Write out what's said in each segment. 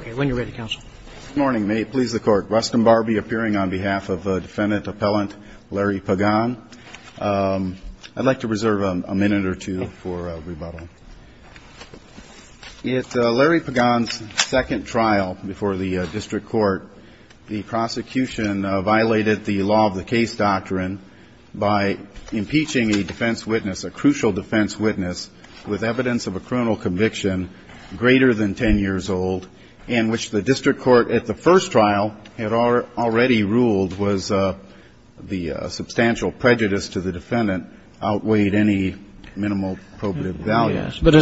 In Larry Pagan's second trial before the District Court, the prosecution violated the law of the case doctrine by impeaching a defense witness, a crucial defense witness, who claimed to be a member of the Supreme Court. But as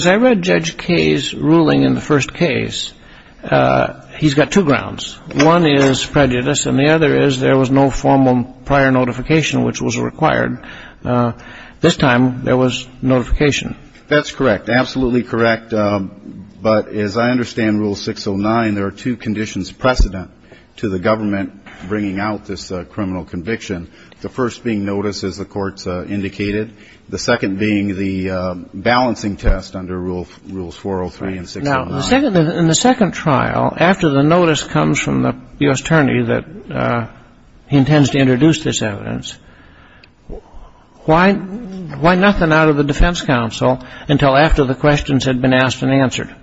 I read Judge Kaye's ruling in the first case, he's got two grounds. One is prejudice, and the other is there was no formal prior notification which was required. This time, there was notification. That's correct. Absolutely correct. But as I understand Rule 609, there are two conditions precedent to the government bringing out this criminal conviction. The first being notice, as the courts indicated, the second being the balancing test under Rules 403 and 609. Now, in the second trial, after the notice comes from the U.S. Attorney that he intends to introduce this evidence, why nothing out of the defense counsel until after the questions had been asked and answered?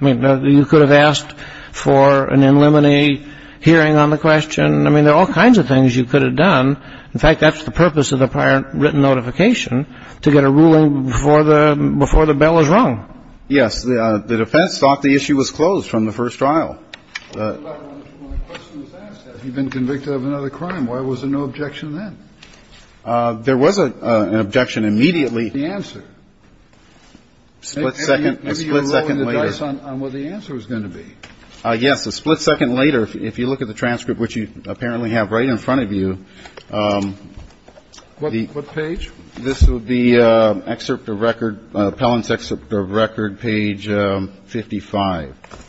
I mean, you could have asked for an in limine hearing on the question. I mean, there are all kinds of things you could have done. In fact, that's the purpose of the prior written notification, to get a ruling before the bill is wrong. Yes. The defense thought the issue was closed from the first trial. Well, my question was asked, has he been convicted of another crime? Why was there no objection then? There was an objection immediately. What's the answer? A split second later. Maybe you're lowering the dice on what the answer is going to be. Yes. A split second later, if you look at the transcript, which you apparently have right in front of you. What page? This would be excerpt of record, appellant's excerpt of record, page 55.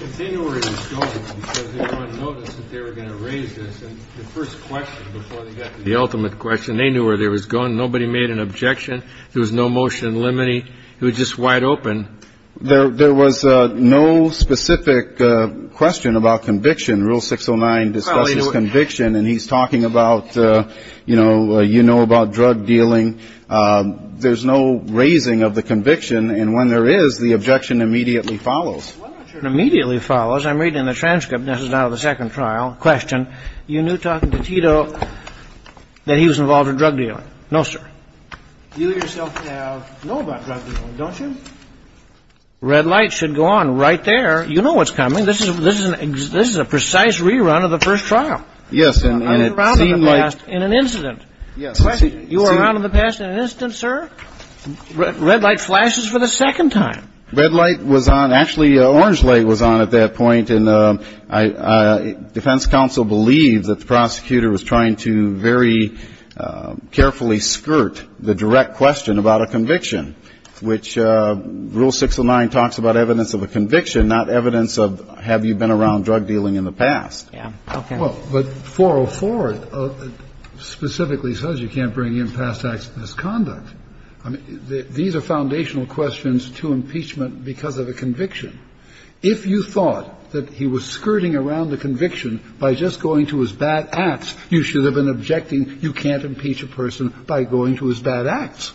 If they knew where he was going, because they were going to notice that they were going to raise this, and the first question before they got to the ultimate question, they knew where he was going. Nobody made an objection. There was no motion in limine. It was just wide open. There was no specific question about conviction. Rule 609 discusses conviction, and he's talking about, you know, you know about drug dealing. There's no raising of the conviction, and when there is, the objection immediately follows. Immediately follows. I'm reading the transcript. This is now the second trial. Question. You knew talking to Tito that he was involved in drug dealing. No, sir. You yourself know about drug dealing, don't you? Red light should go on right there. You know what's coming. This is a precise rerun of the first trial. Yes, and it seemed like. In an incident. Yes. You were around in the past in an incident, sir. Red light flashes for the second time. Red light was on. Actually, orange light was on at that point, and defense counsel believes that the prosecutor was trying to very carefully skirt the direct question about a conviction, which Rule 609 talks about evidence of a conviction, not evidence of have you been around drug dealing in the past. Yeah. Okay. Well, but 404 specifically says you can't bring in past acts of misconduct. I mean, these are foundational questions to impeachment because of a conviction. If you thought that he was skirting around the conviction by just going to his bad acts, you should have been objecting you can't impeach a person by going to his bad acts.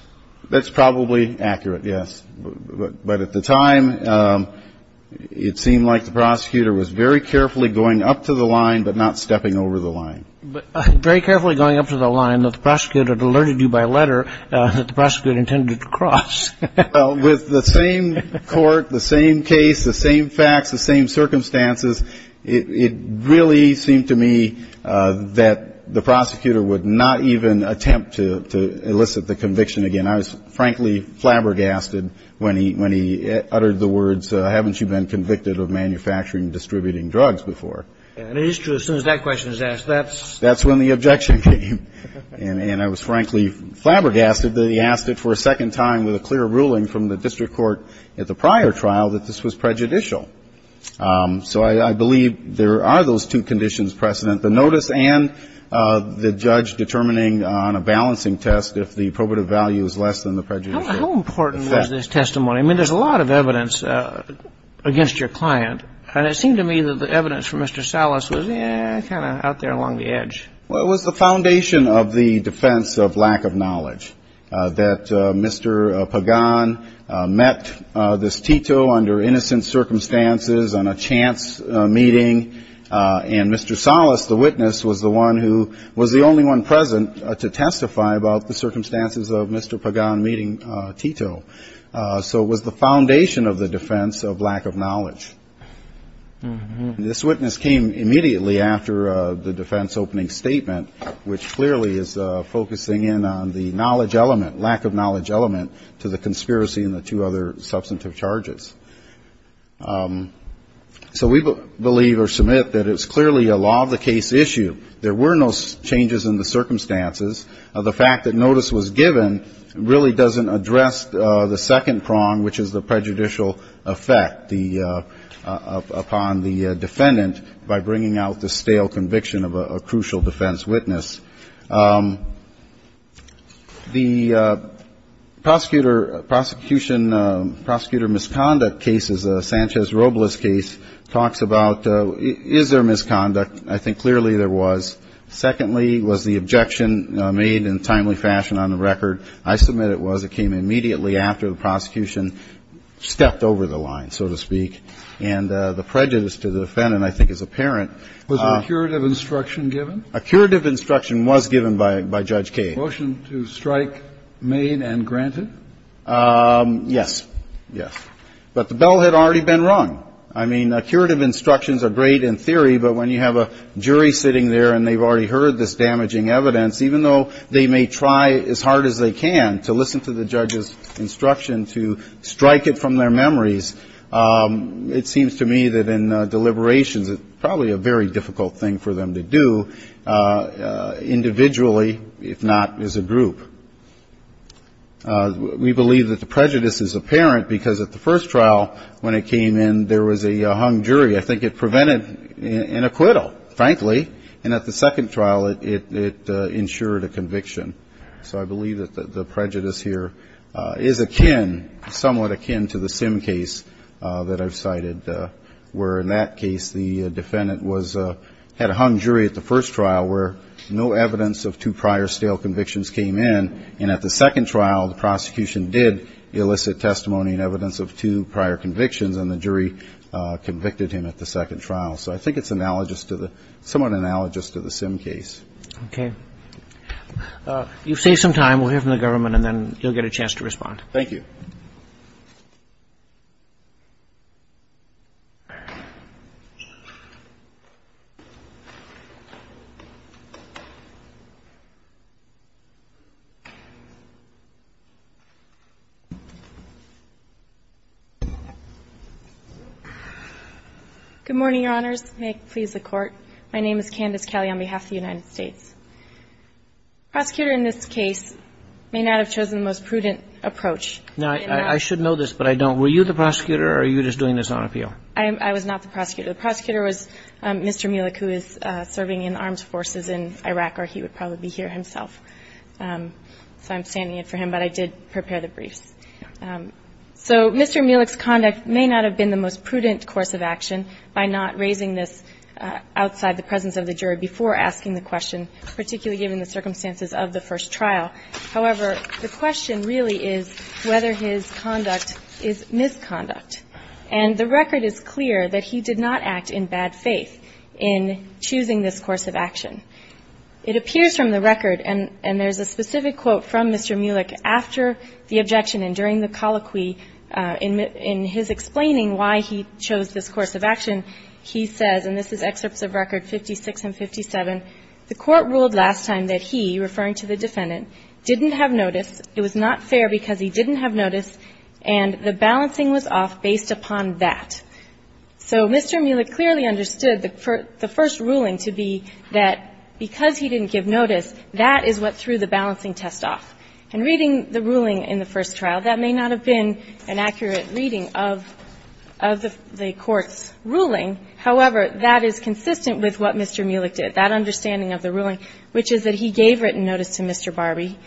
That's probably accurate, yes. But at the time, it seemed like the prosecutor was very carefully going up to the line but not stepping over the line. But very carefully going up to the line that the prosecutor alerted you by letter that the prosecutor intended to cross. With the same court, the same case, the same facts, the same circumstances, it really seemed to me that the prosecutor would not even attempt to elicit the conviction again. And I was, frankly, flabbergasted when he uttered the words, haven't you been convicted of manufacturing and distributing drugs before? And it is true, as soon as that question is asked, that's when the objection came. And I was, frankly, flabbergasted that he asked it for a second time with a clear ruling from the district court at the prior trial that this was prejudicial. So I believe there are those two conditions precedent, the notice and the judge determining on a balancing test if the probative value is less than the prejudicial effect. How important was this testimony? I mean, there's a lot of evidence against your client. And it seemed to me that the evidence for Mr. Salas was kind of out there along the edge. Well, it was the foundation of the defense of lack of knowledge, that Mr. Pagan met this Tito under innocent circumstances on a chance meeting, and Mr. Salas, the witness, was the one who was the only one present to testify about the circumstances of Mr. Pagan meeting Tito. So it was the foundation of the defense of lack of knowledge. This witness came immediately after the defense opening statement, which clearly is focusing in on the knowledge element, lack of knowledge element, to the conspiracy and the two other substantive charges. So we believe or submit that it's clearly a law-of-the-case issue. There were no changes in the circumstances. The fact that notice was given really doesn't address the second prong, which is the prejudicial effect upon the defendant by bringing out the stale conviction of a crucial defense witness. The prosecutor, prosecution, prosecutor misconduct case is a Sanchez-Robles case, talks about is there misconduct? I think clearly there was. Secondly, was the objection made in a timely fashion on the record? I submit it was. It came immediately after the prosecution stepped over the line, so to speak. And the prejudice to the defendant, I think, is apparent. Was a curative instruction given? A curative instruction was given by Judge Kagan. Motion to strike made and granted? Yes. Yes. But the bell had already been rung. I mean, curative instructions are great in theory, but when you have a jury sitting there and they've already heard this damaging evidence, even though they may try as hard as they can to listen to the judge's instruction to strike it from their memories, it seems to me that in deliberations it's probably a very difficult thing for them to do individually, if not as a group. We believe that the prejudice is apparent because at the first trial when it came in, there was a hung jury. I think it prevented an acquittal, frankly. And at the second trial, it ensured a conviction. So I believe that the prejudice here is akin, somewhat akin to the Sim case that I've cited, where in that case the defendant was at a hung jury at the first trial where no evidence of two prior stale convictions came in. And at the second trial, the prosecution did elicit testimony and evidence of two prior convictions, and the jury convicted him at the second trial. So I think it's analogous to the, somewhat analogous to the Sim case. Okay. You've saved some time. We'll hear from the government, and then you'll get a chance to respond. Thank you. Good morning, Your Honors. May it please the Court. My name is Candace Kelly on behalf of the United States. Prosecutor in this case may not have chosen the most prudent approach. Now, I should know this, but I don't. Were you the prosecutor, or are you just doing this on appeal? I was not the prosecutor. The prosecutor was Mr. Mielek, who is serving in the armed forces in Iraq, or he would probably be here himself. So I'm standing in for him, but I did prepare the briefs. So Mr. Mielek's conduct may not have been the most prudent course of action by not raising this outside the presence of the jury before asking the question, particularly given the circumstances of the first trial. However, the question really is whether his conduct is misconduct. And the record is clear that he did not act in bad faith in choosing this course of action. It appears from the record, and there's a specific quote from Mr. Mielek after the objection and during the colloquy in his explaining why he chose this course of action, he says, and this is excerpts of record 56 and 57, The court ruled last time that he, referring to the defendant, didn't have notice, it was not fair because he didn't have notice, and the balancing was off based upon that. So Mr. Mielek clearly understood the first ruling to be that because he didn't give notice, that is what threw the balancing test off. And reading the ruling in the first trial, that may not have been an accurate reading of the court's ruling. However, that is consistent with what Mr. Mielek did, that understanding of the ruling, which is that he gave written notice to Mr. Barbie,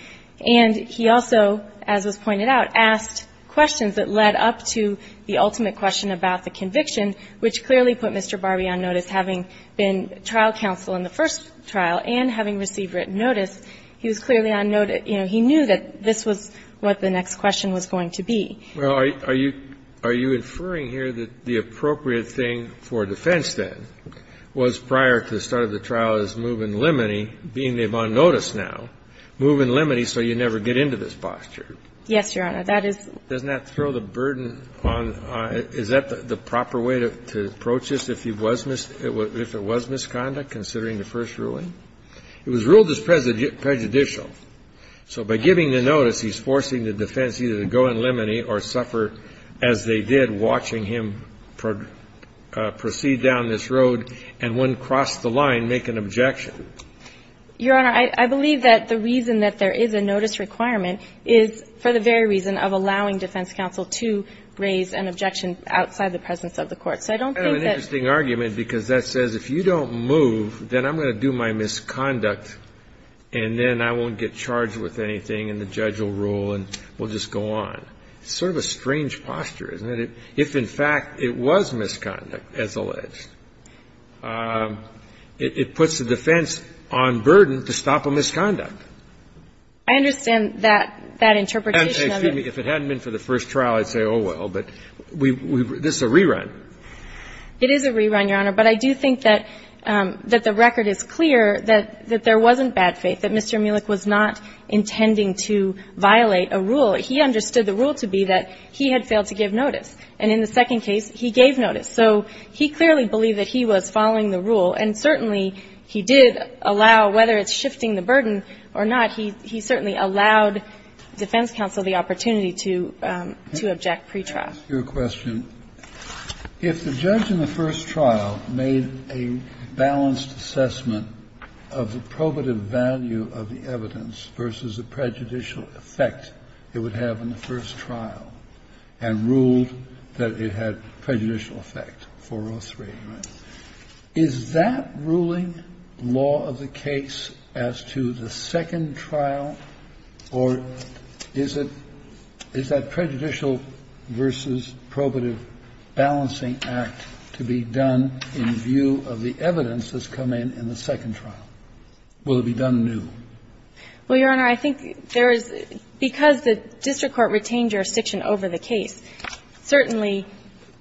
and he also, as was pointed out, asked questions that led up to the ultimate question about the conviction, which clearly put Mr. Barbie on notice, having been trial counsel in the first trial and having received written notice. He was clearly on notice. You know, he knew that this was what the next question was going to be. Well, are you – are you inferring here that the appropriate thing for defense, then, was prior to the start of the trial is move in limine, being on notice now, move in limine so you never get into this posture? Yes, Your Honor. That is – Doesn't that throw the burden on – is that the proper way to approach this, if he was – if it was misconduct, considering the first ruling? It was ruled as prejudicial. So by giving the notice, he's forcing the defense either to go in limine or suffer, as they did, watching him proceed down this road and, when crossed the line, make an objection. Your Honor, I believe that the reason that there is a notice requirement is for the very reason of allowing defense counsel to raise an objection outside the presence of the court. So I don't think that – I have an interesting argument, because that says, if you don't move, then I'm going to do my misconduct, and then I won't get charged with anything, and the judge will rule, and we'll just go on. It's sort of a strange posture, isn't it? If, in fact, it was misconduct, as alleged, it puts the defense on burden to stop a misconduct. I understand that interpretation of it. If it hadn't been for the first trial, I'd say, oh, well, but we – this is a rerun. It is a rerun, Your Honor, but I do think that the record is clear that there wasn't bad faith, that Mr. Mulek was not intending to violate a rule. He understood the rule to be that he had failed to give notice. And in the second case, he gave notice. So he clearly believed that he was following the rule. And certainly, he did allow, whether it's shifting the burden or not, he certainly allowed defense counsel the opportunity to object pretrial. Kennedy. Yes, Your Honor. Let me ask you a question. If the judge in the first trial made a balanced assessment of the probative value of the evidence versus the prejudicial effect it would have in the first trial and ruled that it had prejudicial effect, 403, right, is that ruling law of the case as to the second trial, or is it – is that prejudicial versus probative balancing act to be done in view of the evidence that's come in in the second trial? Will it be done new? Well, Your Honor, I think there is – because the district court retained jurisdiction over the case, certainly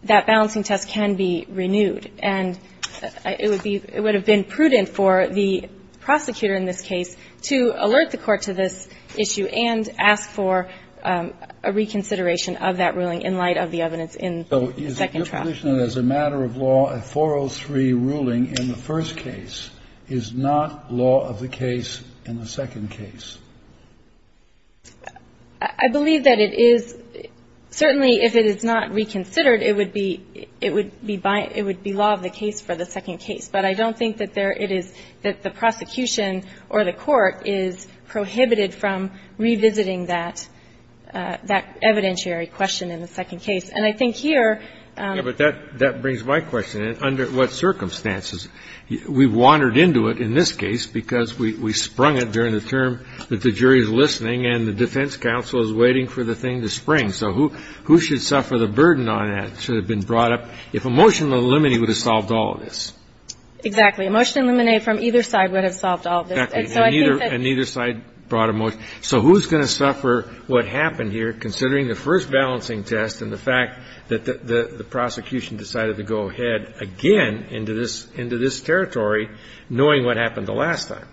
that balancing test can be renewed. And it would be – it would have been prudent for the prosecutor in this case to alert the court to this issue and ask for a reconsideration of that ruling in light of the evidence in the second trial. So is it your position that as a matter of law, a 403 ruling in the first case is not law of the case in the second case? I believe that it is. Certainly, if it is not reconsidered, it would be – it would be by – it would be law of the case for the second case. But I don't think that there – it is – that the prosecution or the court is prohibited from revisiting that evidentiary question in the second case. And I think here – Yeah, but that brings my question in. Under what circumstances? We wandered into it in this case because we sprung it during the term that the jury is listening and the defense counsel is waiting for the thing to spring. So who should suffer the burden on that? It should have been brought up if a motion to eliminate would have solved all of this. Exactly. A motion to eliminate from either side would have solved all of this. Exactly. And neither side brought a motion. So who's going to suffer what happened here, considering the first balancing test and the fact that the prosecution decided to go ahead again into this territory, knowing what happened the last time?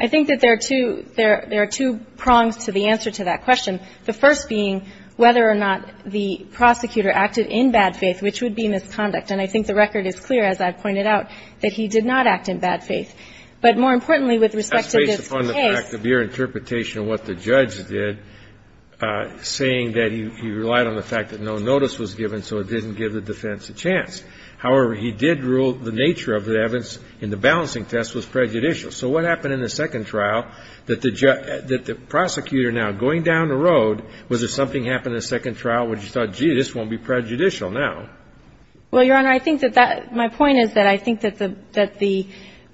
I think that there are two – there are two prongs to the answer to that question. The first being whether or not the prosecutor acted in bad faith, which would be misconduct. And I think the record is clear, as I've pointed out, that he did not act in bad faith. But more importantly with respect to this case – That's based upon the fact of your interpretation of what the judge did, saying that he relied on the fact that no notice was given, so it didn't give the defense a chance. However, he did rule the nature of the evidence in the balancing test was prejudicial. So what happened in the second trial that the prosecutor now, going down the road, was there something happened in the second trial where you thought, gee, this won't be prejudicial now? Well, Your Honor, I think that that – my point is that I think that the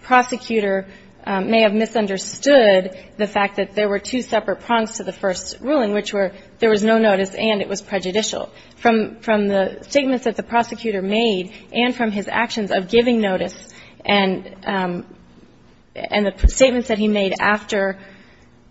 prosecutor may have misunderstood the fact that there were two separate prongs to the first ruling, which were there was no notice and it was prejudicial. From the statements that the prosecutor made and from his actions of giving notice and the statements that he made after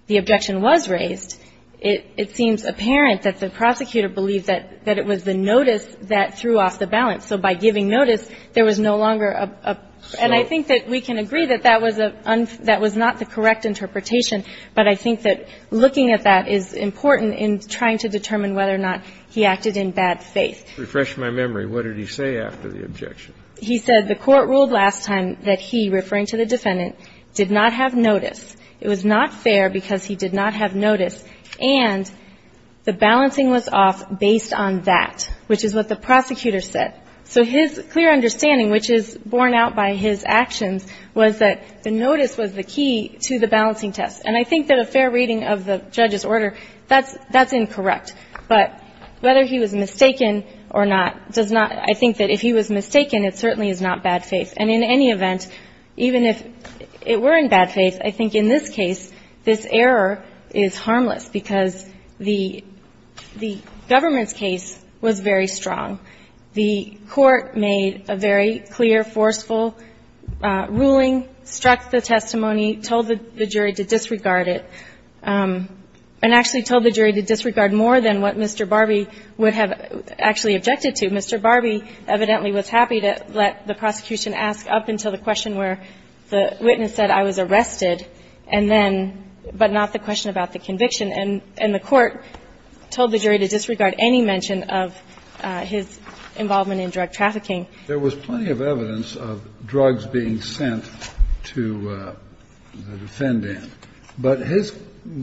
the objection was raised, it seems apparent that the prosecutor believed that it was the notice that threw off the balance. So by giving notice, there was no longer a – and I think that we can agree that that was a – that was not the correct interpretation, but I think that looking at that is important in trying to determine whether or not he acted in bad faith. To refresh my memory, what did he say after the objection? He said the court ruled last time that he, referring to the defendant, did not have notice, it was not fair because he did not have notice, and the balancing was off based on that, which is what the prosecutor said. So his clear understanding, which is borne out by his actions, was that the notice was the key to the balancing test. And I think that a fair reading of the judge's order, that's – that's incorrect. But whether he was mistaken or not does not – I think that if he was mistaken it certainly is not bad faith. And in any event, even if it were in bad faith, I think in this case, this error is harmless because the – the government's case was very strong. The court made a very clear, forceful ruling, struck the testimony, told the jury to disregard it, and actually told the jury to disregard more than what Mr. Barbie would have actually objected to. Mr. Barbie evidently was happy to let the prosecution ask up until the question where the witness said, I was arrested, and then – but not the question about the conviction. And the court told the jury to disregard any mention of his involvement in drug trafficking. There was plenty of evidence of drugs being sent to the defendant, but his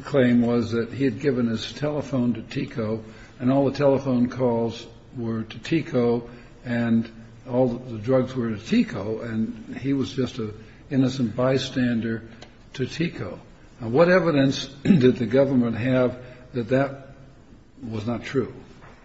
claim was that he had given his telephone to TICO, and all the telephone calls were to TICO, and all the drugs were to TICO, and he was just an innocent bystander to TICO. Now, what evidence did the government have that that was not true?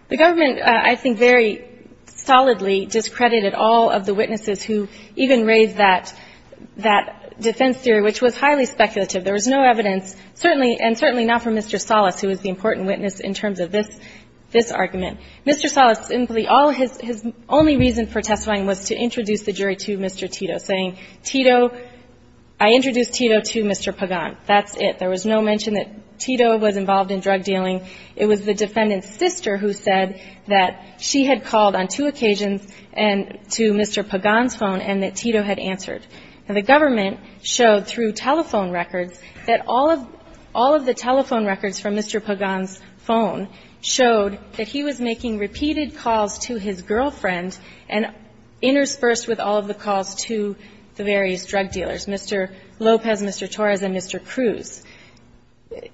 The government, I think, very solidly discredited all of the witnesses who even raised that – that defense theory, which was highly speculative. There was no evidence, certainly – and certainly not from Mr. Salas, who was the important witness in terms of this – this argument. Mr. Salas, simply all his – his only reason for testifying was to introduce the jury to Mr. Tito, saying, Tito – I introduced Tito to Mr. Pagan. That's it. There was no mention that Tito was involved in drug dealing. It was the defendant's sister who said that she had called on two occasions and – to Mr. Pagan's phone and that Tito had answered. Now, the government showed through telephone records that all of – all of the telephone records from Mr. Pagan's phone showed that he was making repeated calls to his girlfriend and interspersed with all of the calls to the various drug dealers, Mr. Lopez, Mr. Torres, and Mr. Cruz.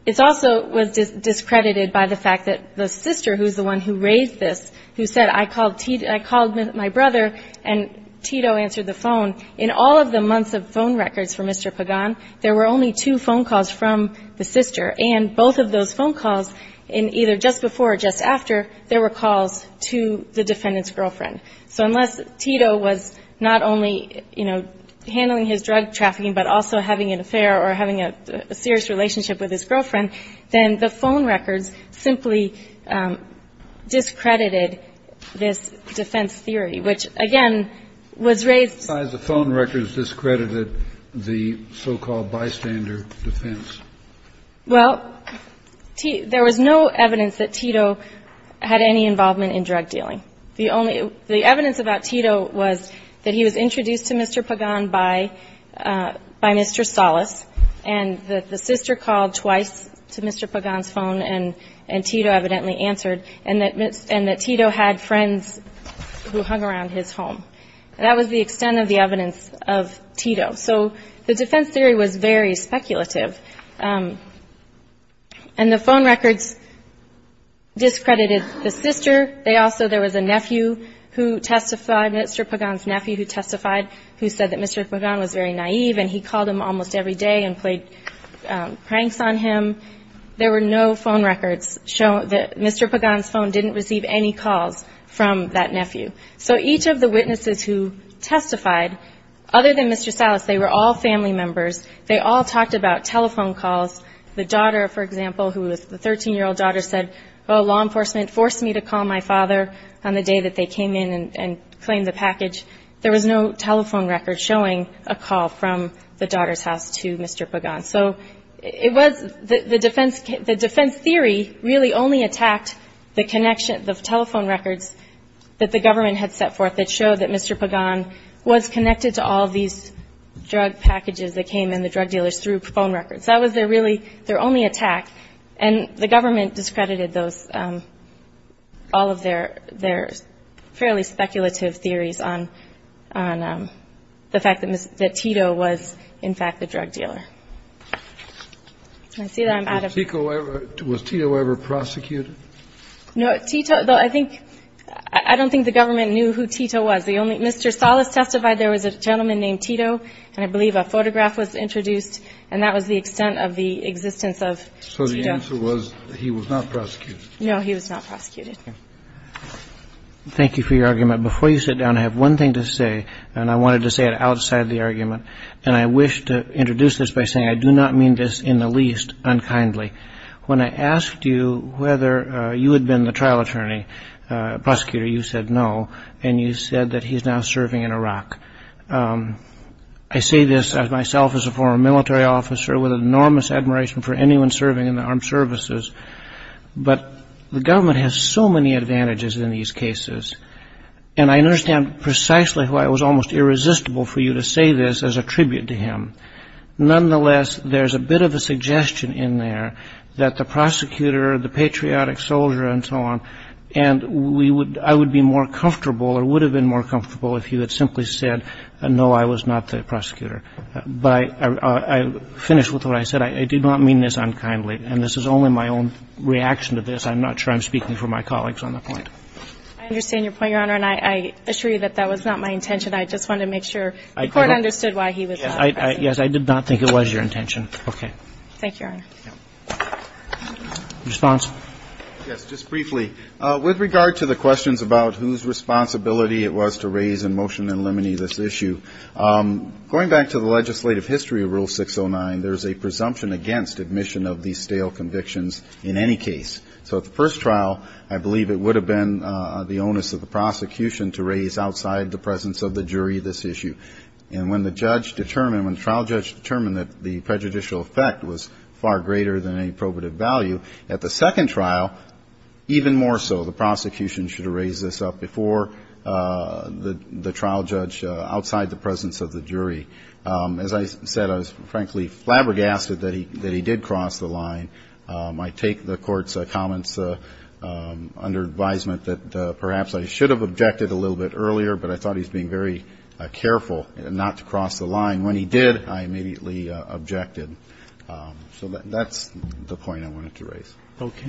It also was discredited by the fact that the sister, who is the one who raised this, who said, I called Tito – I called my brother and Tito answered the phone, in all of the months of phone records for Mr. Pagan, there were only two phone calls from the sister. And both of those phone calls in either just before or just after, there were calls to the defendant's girlfriend. So unless Tito was not only, you know, handling his drug trafficking but also having an affair or having a serious relationship with his girlfriend, then the phone records simply discredited this defense theory, which, again, was raised – Kennedy. The phone records discredited the so-called bystander defense. Well, there was no evidence that Tito had any involvement in drug dealing. The only – the evidence about Tito was that he was introduced to Mr. Pagan by Mr. Salas, and that the sister called twice to Mr. Pagan's phone and Tito evidently answered, and that Tito had friends who hung around his home. That was the extent of the evidence of Tito. So the defense theory was very speculative. And the phone records discredited the sister. They also – there was a nephew who testified, Mr. Pagan's nephew who testified, who said that Mr. Pagan was very naive and he called him almost every day and played pranks on him. There were no phone records showing that Mr. Pagan's phone didn't receive any calls from that nephew. So each of the witnesses who testified, other than Mr. Salas, they were all family members. They all talked about telephone calls. The daughter, for example, who was – the 13-year-old daughter said, oh, law enforcement, I'm going to call Mr. Pagan. And there was no telephone record showing a call from the daughter's house to Mr. Pagan. So it was – the defense theory really only attacked the connection – the telephone records that the government had set forth that showed that Mr. Pagan was connected to all of these drug packages that came in, the drug dealers, through phone records. That was their really – their only attack. And the government discredited those – all of their fairly speculative theories on the fact that Tito was, in fact, the drug dealer. Can I see that? I'm out of – Was Tito ever prosecuted? No. Tito – I think – I don't think the government knew who Tito was. The only – Mr. Salas testified there was a gentleman named Tito, and I believe a photograph was introduced, and that was the extent of the existence of – So the answer was he was not prosecuted. No, he was not prosecuted. Thank you for your argument. Before you sit down, I have one thing to say, and I wanted to say it outside the argument. And I wish to introduce this by saying I do not mean this in the least unkindly. When I asked you whether you had been the trial attorney prosecutor, you said no, and you said that he's now serving in Iraq. I say this as myself as a former military officer with enormous admiration for anyone serving in the armed services. But the government has so many advantages in these cases, and I understand precisely why it was almost irresistible for you to say this as a tribute to him. Nonetheless, there's a bit of a suggestion in there that the prosecutor, the patriotic soldier and so on, and we would – I would be more comfortable or would have been more comfortable if you had simply said, no, I was not the prosecutor. But I finish with what I said. I did not mean this unkindly. And this is only my own reaction to this. I'm not sure I'm speaking for my colleagues on the point. I understand your point, Your Honor. And I assure you that that was not my intention. I just wanted to make sure the Court understood why he was not the prosecutor. Yes, I did not think it was your intention. Okay. Thank you, Your Honor. Response? Yes, just briefly. With regard to the questions about whose responsibility it was to raise in motion and eliminate this issue, going back to the legislative history of Rule 609, there's a presumption against admission of these stale convictions in any case. So at the first trial, I believe it would have been the onus of the prosecution to raise outside the presence of the jury this issue. And when the judge determined, when the trial judge determined that the prejudicial effect was far greater than any probative value, at the second trial, even more so. So the prosecution should have raised this up before the trial judge outside the presence of the jury. As I said, I was frankly flabbergasted that he did cross the line. I take the Court's comments under advisement that perhaps I should have objected a little bit earlier, but I thought he was being very careful not to cross the line. When he did, I immediately objected. So that's the point I wanted to raise. Okay.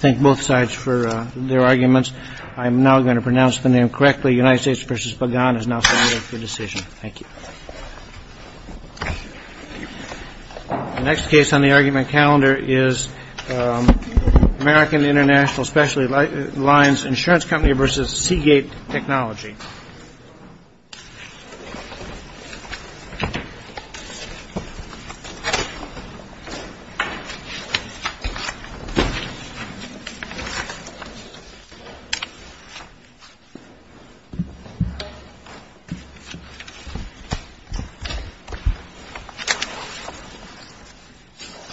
Thank both sides for their arguments. I'm now going to pronounce the name correctly. United States versus Bagan is now submitted for decision. Thank you. The next case on the argument calendar is American International Specialty Lines Insurance Company versus Seagate Technology. Thank you.